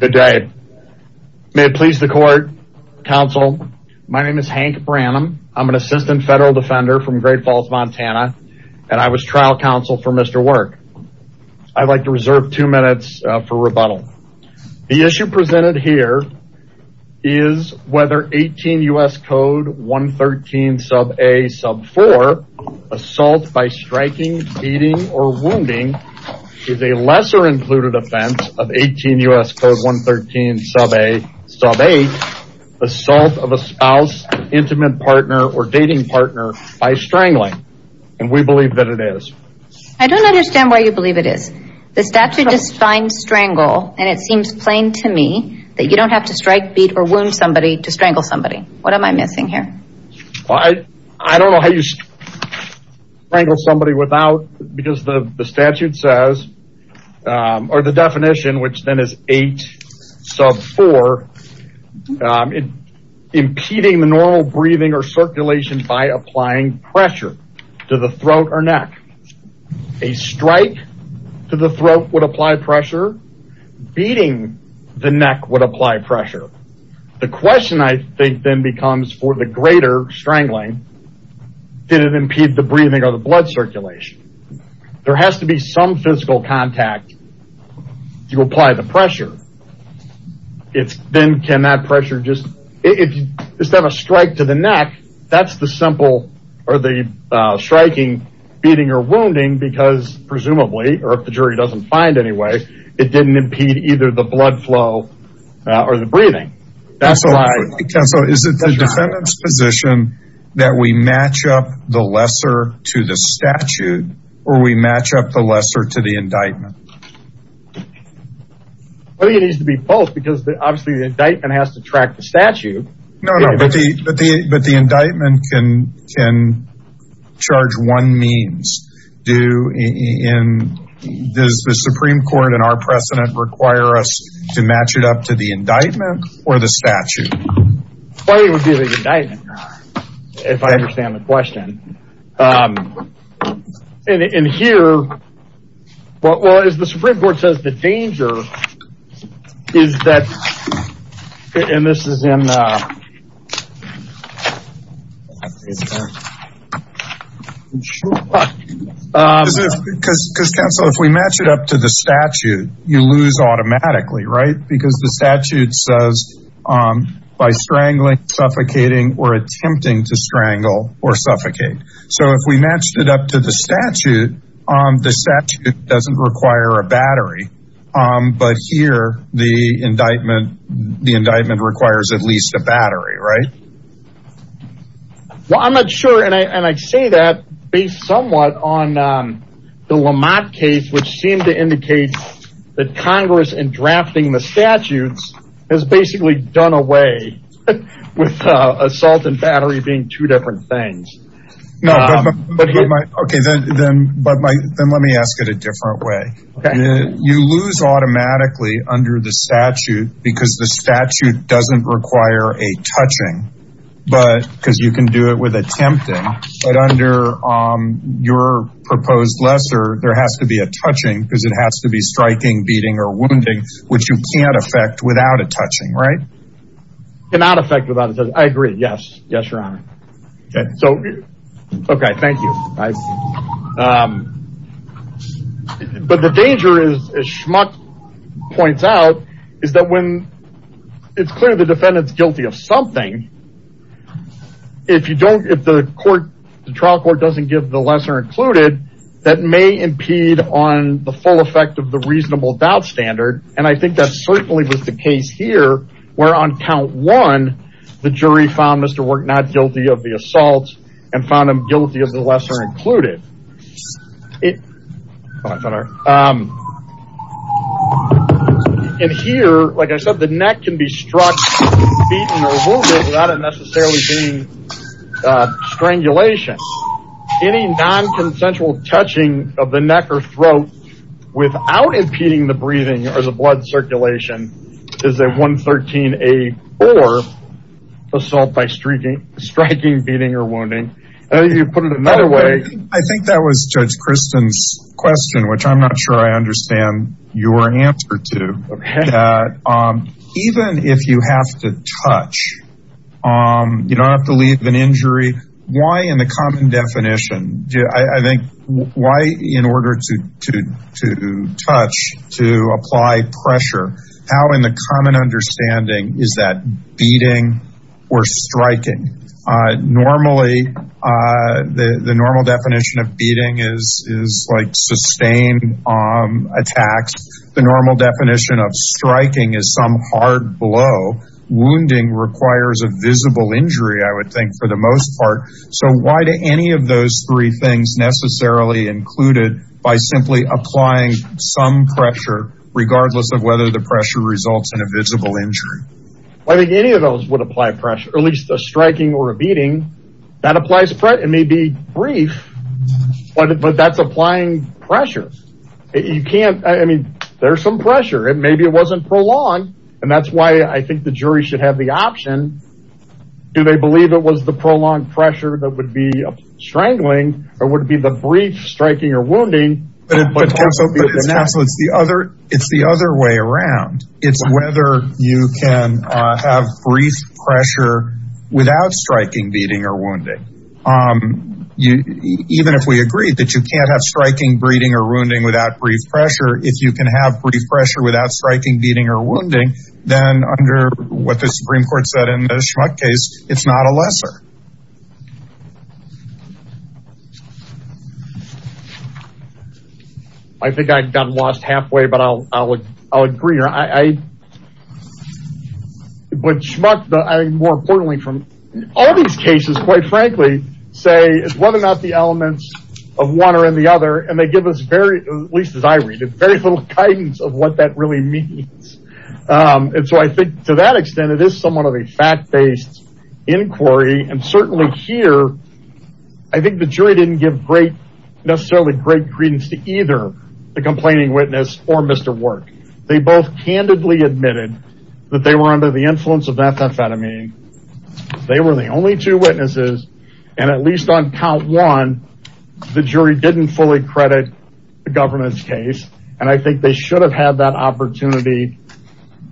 Good day. May it please the court, counsel. My name is Hank Branham. I'm an assistant federal defender from Great Falls, Montana, and I was trial counsel for Mr. Werk. I'd like to reserve two minutes for rebuttal. The issue presented here is whether 18 U.S. Code 113 sub a sub 4, assault by striking, beating, or wounding somebody, and 18 U.S. Code 113 sub a sub 8, assault of a spouse, an intimate partner, or dating partner by strangling, and we believe that it is. I don't understand why you believe it is. The statute defines strangle, and it seems plain to me that you don't have to strike, beat, or wound somebody to strangle somebody. What am I missing here? I don't know how you strangle somebody without, because the statute says, or the definition, which then is 8 sub 4, impeding the normal breathing or circulation by applying pressure to the throat or neck. A strike to the throat would apply pressure. Beating the neck would apply pressure. The question I think then becomes, for the greater strangling, did it impede the breathing or the blood circulation? There has to be some physical contact to apply the pressure. It's then, can that pressure just, if you just have a strike to the neck, that's the simple, or the striking, beating, or wounding, because presumably, or if the jury doesn't find anyway, it didn't impede either the blood flow or the breathing. So is it the defendant's position that we match up the lesser to the statute, or we match up the lesser to the indictment? I think it needs to be both because obviously the indictment has to track the statute. No, no, but the indictment can charge one means. Does the Supreme Court and our precedent require us to match it up to the indictment or the statute? Why would it be the indictment, if I understand the question? In here, well, as the Supreme Court says, the danger is that, and this is in, Because counsel, if we match it up to the statute, you lose automatically, right? Because the statute says, by strangling, suffocating, or attempting to strangle or suffocate. So if we matched it up to the statute, the statute doesn't require a battery. But here, the indictment requires at least a battery, right? Well, I'm not sure, and I say that based somewhat on the Lamont case, which seemed to indicate that Congress, in drafting the statutes, has basically done away with assault and battery being two different things. No, but, okay, then let me ask it a different way. You lose automatically under the statute because the statute doesn't require a touching, because you can do it with it has to be striking, beating, or wounding, which you can't affect without a touching, right? Cannot affect without a touching, I agree. Yes. Yes, Your Honor. Okay, so, okay, thank you. But the danger is, as Schmuck points out, is that when it's clear the defendant's guilty of something, if you don't, if the court, the trial court doesn't give the lesser included, that may impede on the full effect of the reasonable doubt standard. And I think that certainly was the case here, where on count one, the jury found Mr. Work not guilty of the assault and found him guilty of the lesser included. And here, like I said, the neck can be struck, beaten, or wounded without it necessarily being strangulation. Any non-consensual touching of the neck or throat without impeding the breathing or the blood circulation is a 113-A-4 assault by striking, beating, or wounding. I think you put it another way. I think that was Judge Kristen's question, which I'm not sure I understand your answer to. Even if you have to touch, you don't have to leave an injury. Why in the common definition, I think, why in order to touch, to apply pressure, how in the common understanding is that beating or striking? Normally, the normal definition of beating is sustained attacks. The normal definition of striking is some hard blow. Wounding requires a visible injury, I would think, for the most part. So why do any of those three things necessarily include it by simply applying some pressure regardless of whether the pressure results in a visible injury? I think any of those would apply pressure, at least a striking or a beating. That applies, it may be brief, but that's applying pressure. You can't, I mean, there's some pressure and maybe it wasn't prolonged. And that's why I think the jury should have the option. Do they believe it was the prolonged pressure that would be strangling or would it be the brief striking or wounding? But it's the other way around. It's whether you can have brief pressure without striking, beating or wounding. Even if we agree that you can't have striking, beating or wounding without brief pressure, if you can have brief pressure without striking, beating or wounding, then under what the Supreme Court said in the Schmuck case, it's not a lesser. I think I've gotten lost halfway, but I'll agree. I, but Schmuck, I think more importantly from all these cases, quite frankly, say it's whether or not the elements of one or the other, and they give us very, at least as I read it, very little guidance of what that really means. And so I think to that extent, it is somewhat of a fact based inquiry. And certainly here, I think the jury didn't give great, necessarily great credence to either the complaining witness or Mr. Work. They both candidly admitted that they were under the influence of methamphetamine. They were the only two witnesses. And at least on count one, the jury didn't fully credit the government's case. And I think they should have had that opportunity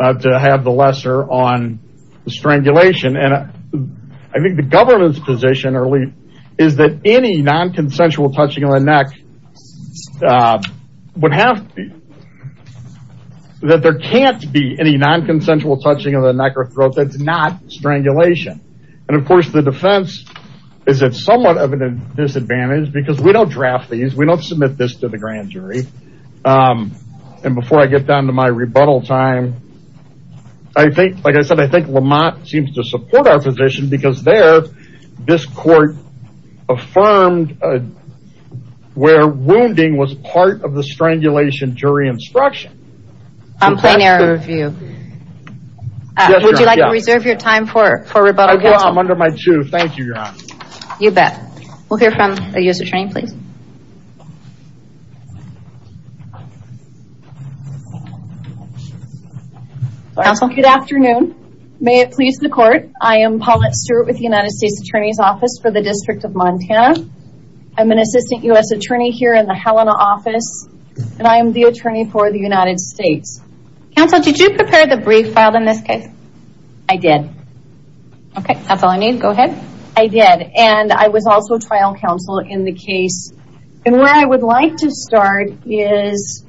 to have the lesser on the strangulation. And I think the government's position early is that any non-consensual touching on the neck would have that there can't be any non-consensual touching on the neck or throat. That's not strangulation. And of course, the defense is that somewhat of a disadvantage because we don't draft these. We don't submit this to the grand jury. And before I get down to my rebuttal time, I think, like I said, I think Lamont seems to support our position because there this court affirmed where wounding was part of the strangulation jury instruction. Complaint error review. Would you like to reserve your time for rebuttal? I'm under my two. Thank you, Your Honor. You bet. We'll hear from a US attorney, please. Counsel, good afternoon. May it please the court. I am Paulette Stewart with the United States Attorney's Office for the District of Montana. I'm an assistant US attorney here in the Helena office, and I am the attorney for the United States. Counsel, did you prepare the brief filed in this case? I did. OK, that's all I need. Go ahead. I did. And I was also trial counsel in the case. And where I would like to start is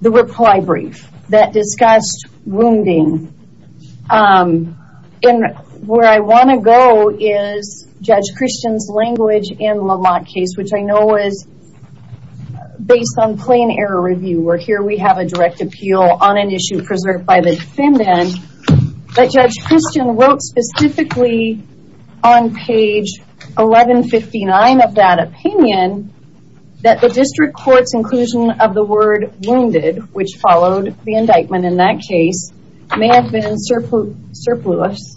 the reply brief that discussed wounding in where I want to go is Judge Christian's language in Lamont case, which I know is based on plain error review. We're here. We have a direct appeal on an issue preserved by the defendant that Judge Christian wrote specifically on page 1159 of that opinion that the district court's inclusion of the word wounded, which followed the indictment in that case, may have been surplus.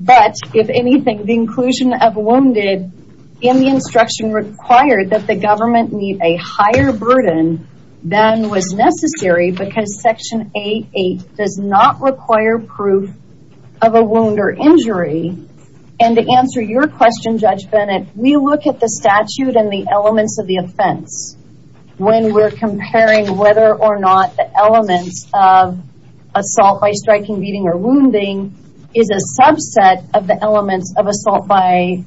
But if anything, the inclusion of wounded in the instruction required that the government need a higher burden than was necessary because Section 8.8 does not require proof of a wound or injury. And to answer your question, Judge Bennett, we look at the statute and the elements of the offense when we're comparing whether or not the elements of assault by striking, beating or wounding is a subset of the elements of assault by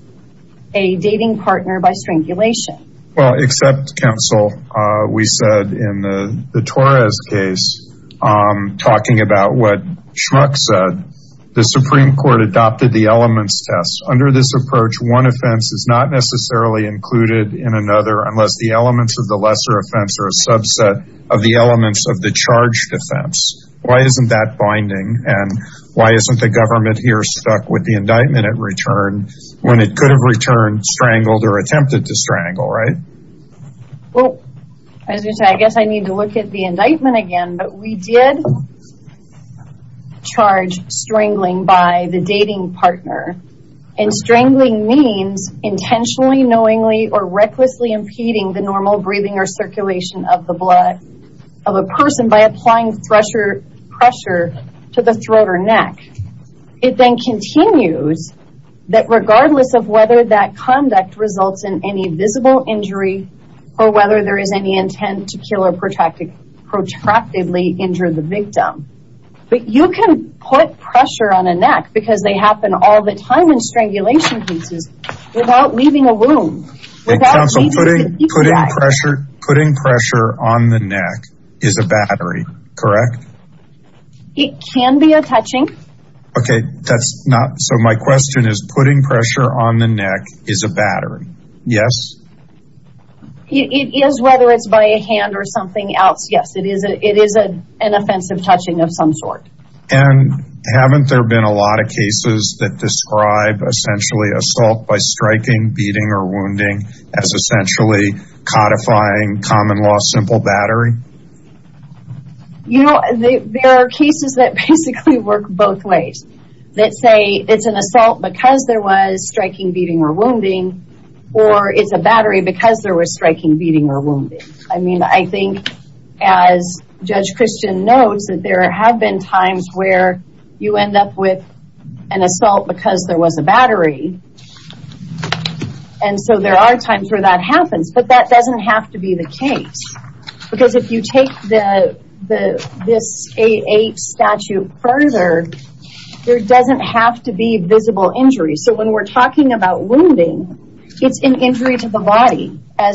a dating partner by strangulation. Well, except counsel, we said in the Torres case, talking about what Schmuck said, the Supreme Court adopted the elements test. Under this approach, one offense is not necessarily included in another unless the elements of the lesser offense are a subset of the elements of the charged offense. Why isn't that binding? And why isn't the government here stuck with the indictment at return when it could have returned strangled or attempted to strangle? Right. Well, I guess I need to look at the indictment again. But we did charge strangling by the dating partner and strangling means intentionally, knowingly or recklessly impeding the normal breathing or circulation of the blood of a person by applying pressure to the throat or neck. It then continues that regardless of whether that conduct results in any visible injury or whether there is any intent to kill or protracted, protractedly injure the victim. But you can put pressure on a neck because they happen all the time in strangulation cases without leaving a wound. It comes from putting pressure, putting pressure on the neck is a battery, correct? It can be a touching. Okay, that's not. So my question is putting pressure on the neck is a battery. Yes. It is. Whether it's by a hand or something else. Yes, it is. It is an offensive touching of some sort. And haven't there been a lot of cases that describe essentially assault by striking, beating or wounding as essentially codifying common law, simple battery? You know, there are cases that basically work both ways that say it's an assault because there was striking, beating or wounding, or it's a battery because there was striking, beating or wounding. I mean, I think as Judge Christian knows that there have been times where you end up with an assault because there was a battery. And so there are times where that happens, but that doesn't have to be the case. Because if you take the this 8-8 statute further, there doesn't have to be visible injuries. So when we're talking about wounding, it's an injury to the body. I'm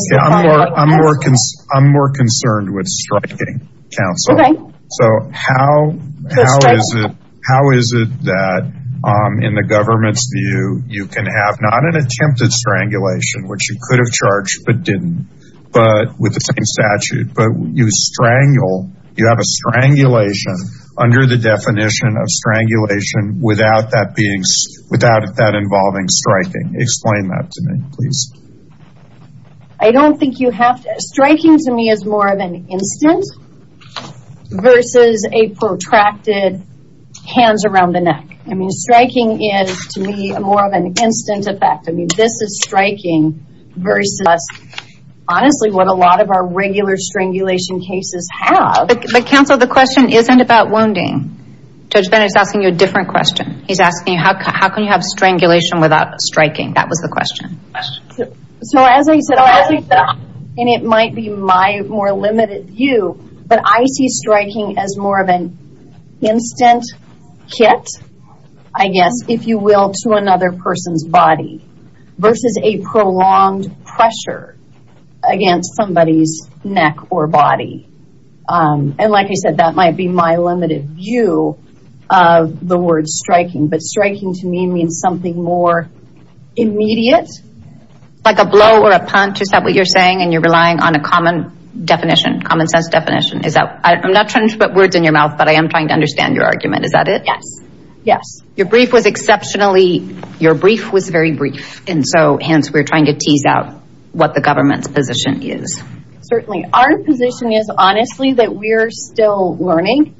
more concerned with striking counsel. So how is it that in the government's view, you can have not an attempt at strangulation, which you could have charged, but didn't. But with the same statute, but you strangle, you have a strangulation under the definition of strangulation without that being without that involving striking. Explain that to me, please. I don't think you have to. Striking to me is more of an instant versus a protracted hands around the neck. I mean, striking is to me more of an instant effect. I mean, this is striking versus honestly what a lot of our regular strangulation cases have. But counsel, the question isn't about wounding. Judge Bennett is asking you a different question. He's asking you, how can you have strangulation without striking? That was the question. So as I said, and it might be my more limited view, but I see striking as more of an instant hit, I guess, if you will, to another person's body. Versus a prolonged pressure against somebody's neck or body. And like I said, that might be my limited view of the word striking. But striking to me means something more immediate. Like a blow or a punch, is that what you're saying? And you're relying on a common definition, common sense definition. Is that I'm not trying to put words in your mouth, but I am trying to understand your argument. Is that it? Yes. Yes. Your brief was exceptionally your brief was very brief. And so hence, we're trying to tease out what the government's position is. Certainly our position is honestly that we're still learning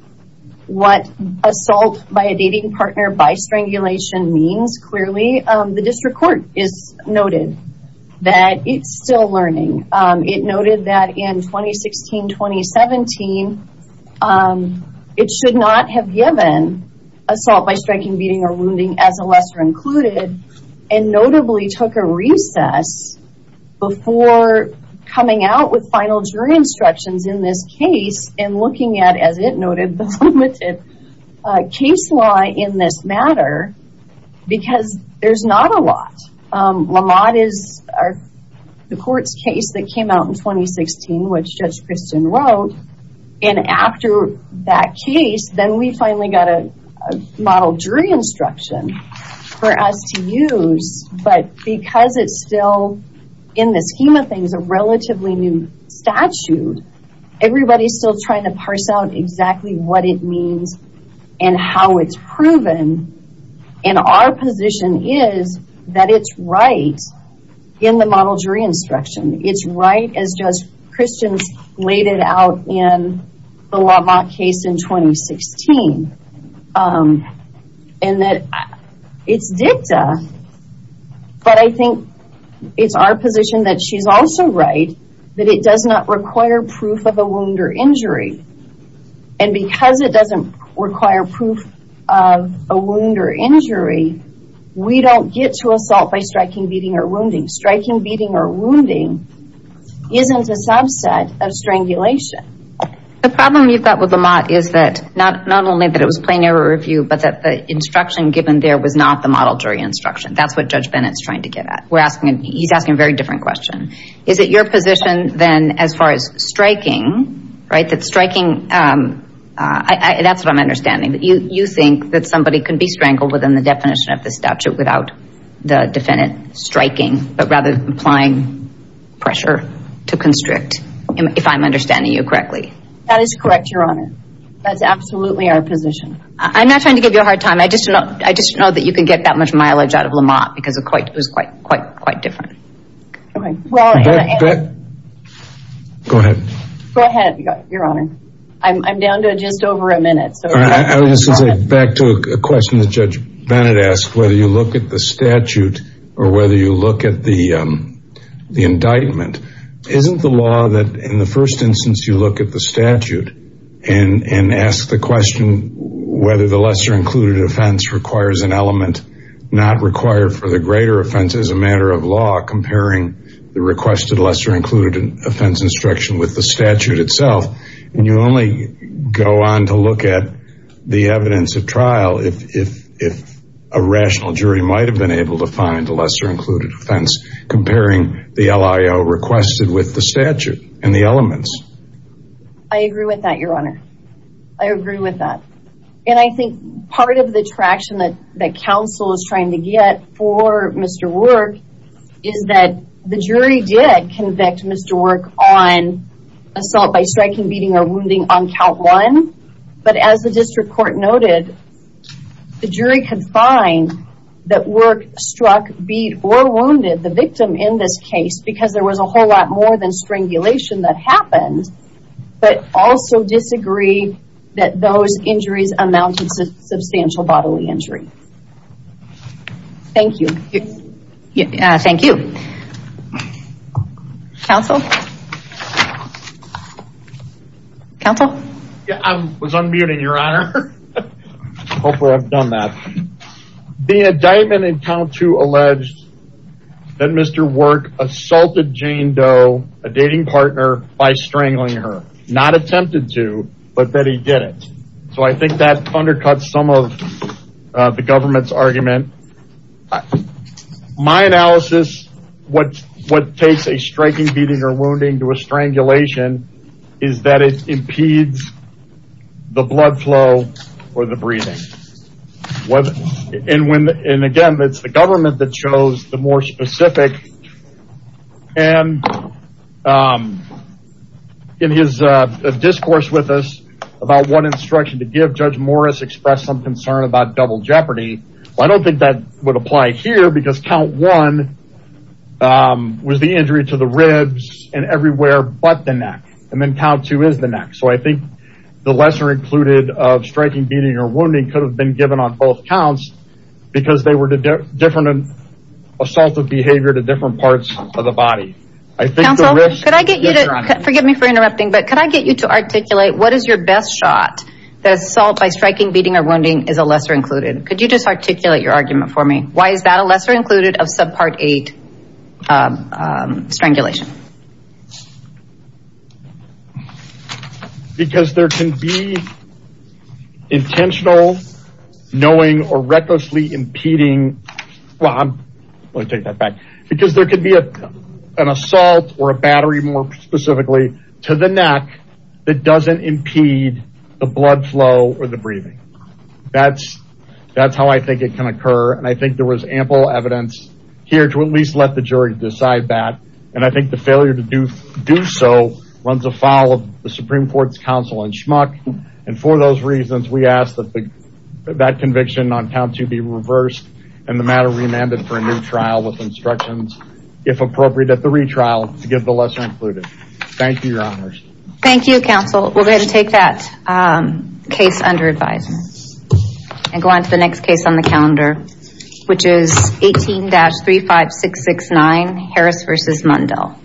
what assault by a dating partner by strangulation means. Clearly, the district court is noted that it's still learning. It noted that in 2016, 2017, it should not have given assault by striking, beating or wounding as a lesser included. And notably took a recess before coming out with final jury instructions in this case and looking at, as it noted, the limited case law in this matter, because there's not a lot. Lamont is the court's case that came out in 2016, which Judge Kristen wrote. And after that case, then we finally got a model jury instruction for us to use. But because it's still in the scheme of things, a relatively new statute, everybody's still trying to parse out exactly what it means and how it's proven. And our position is that it's right in the model jury instruction. It's right as Judge Kristen's laid it out in the Lamont case in 2016, and that it's dicta. But I think it's our position that she's also right that it does not require proof of a wound or injury. And because it doesn't require proof of a wound or injury, we don't get to assault by striking, beating or wounding. Striking, beating or wounding isn't a subset of strangulation. The problem you've got with Lamont is that not only that it was plain error review, but that the instruction given there was not the model jury instruction. That's what Judge Bennett's trying to get at. We're asking, he's asking a very different question. Is it your position then as far as striking, right, that striking, that's what I'm understanding. You think that somebody can be strangled within the definition of this rather than applying pressure to constrict, if I'm understanding you correctly. That is correct, Your Honor. That's absolutely our position. I'm not trying to give you a hard time. I just know I just know that you can get that much mileage out of Lamont because it was quite, quite, quite different. Okay, well, go ahead. Go ahead, Your Honor. I'm down to just over a minute. So back to a question that Judge Bennett asked, whether you look at the statute or whether you look at the indictment, isn't the law that in the first instance, you look at the statute and ask the question whether the lesser included offense requires an element not required for the greater offense as a matter of law, comparing the requested lesser included offense instruction with the statute itself. And you only go on to look at the evidence of trial if a rational jury might have been able to find a lesser included offense comparing the LIO requested with the statute and the elements. I agree with that, Your Honor. I agree with that. And I think part of the traction that the counsel is trying to get for Mr. Work is that the jury did convict Mr. Work on assault by striking, beating or wounding on count one. But as the district court noted, the jury could find that Work struck, beat or wounded the victim in this case because there was a whole lot more than strangulation that happened, but also disagree that those injuries amounted to substantial bodily injury. Thank you. Thank you. Counsel? Counsel? I was unmuting, Your Honor. Hopefully I've done that. The indictment in count two alleged that Mr. Work assaulted Jane Doe, a dating partner, by strangling her. Not attempted to, but that he did it. So I think that undercuts some of the government's argument. My analysis, what what takes a striking, beating or wounding to a strangulation is that it impedes the blood flow or the breathing. And again, it's the government that chose the more specific. And in his discourse with us about what instruction to give, Judge Morris expressed some concern about double jeopardy. I don't think that would apply here because count one was the injury to the ribs and everywhere but the neck. And then count two is the neck. So I think the lesser included of striking, beating or wounding could have been given on both counts because they were different assaultive behavior to different parts of the body. I think the risk... Counsel, could I get you to, forgive me for interrupting, but could I get you to articulate what is your best shot that assault by striking, beating or wounding is a lesser included? Could you just articulate your argument for me? Why is that a lesser included of subpart eight strangulation? Because there can be intentional, knowing or recklessly impeding. Well, I'm going to take that back because there could be an assault or a battery more specifically to the neck that doesn't impede the blood flow or the breathing. That's that's how I think it can occur. And I think there was ample evidence here to at least let the jury decide that. And I think the failure to do so runs afoul of the Supreme Court's counsel in Schmuck. And for those reasons, we ask that that conviction on count two be reversed and the matter remanded for a new trial with instructions, if appropriate, at the retrial to give the lesser included. Thank you, Your Honors. Thank you, Counsel. We're going to take that case under advisement and go on to the next case on the calendar, which is 18-35669. Harris versus Mundell.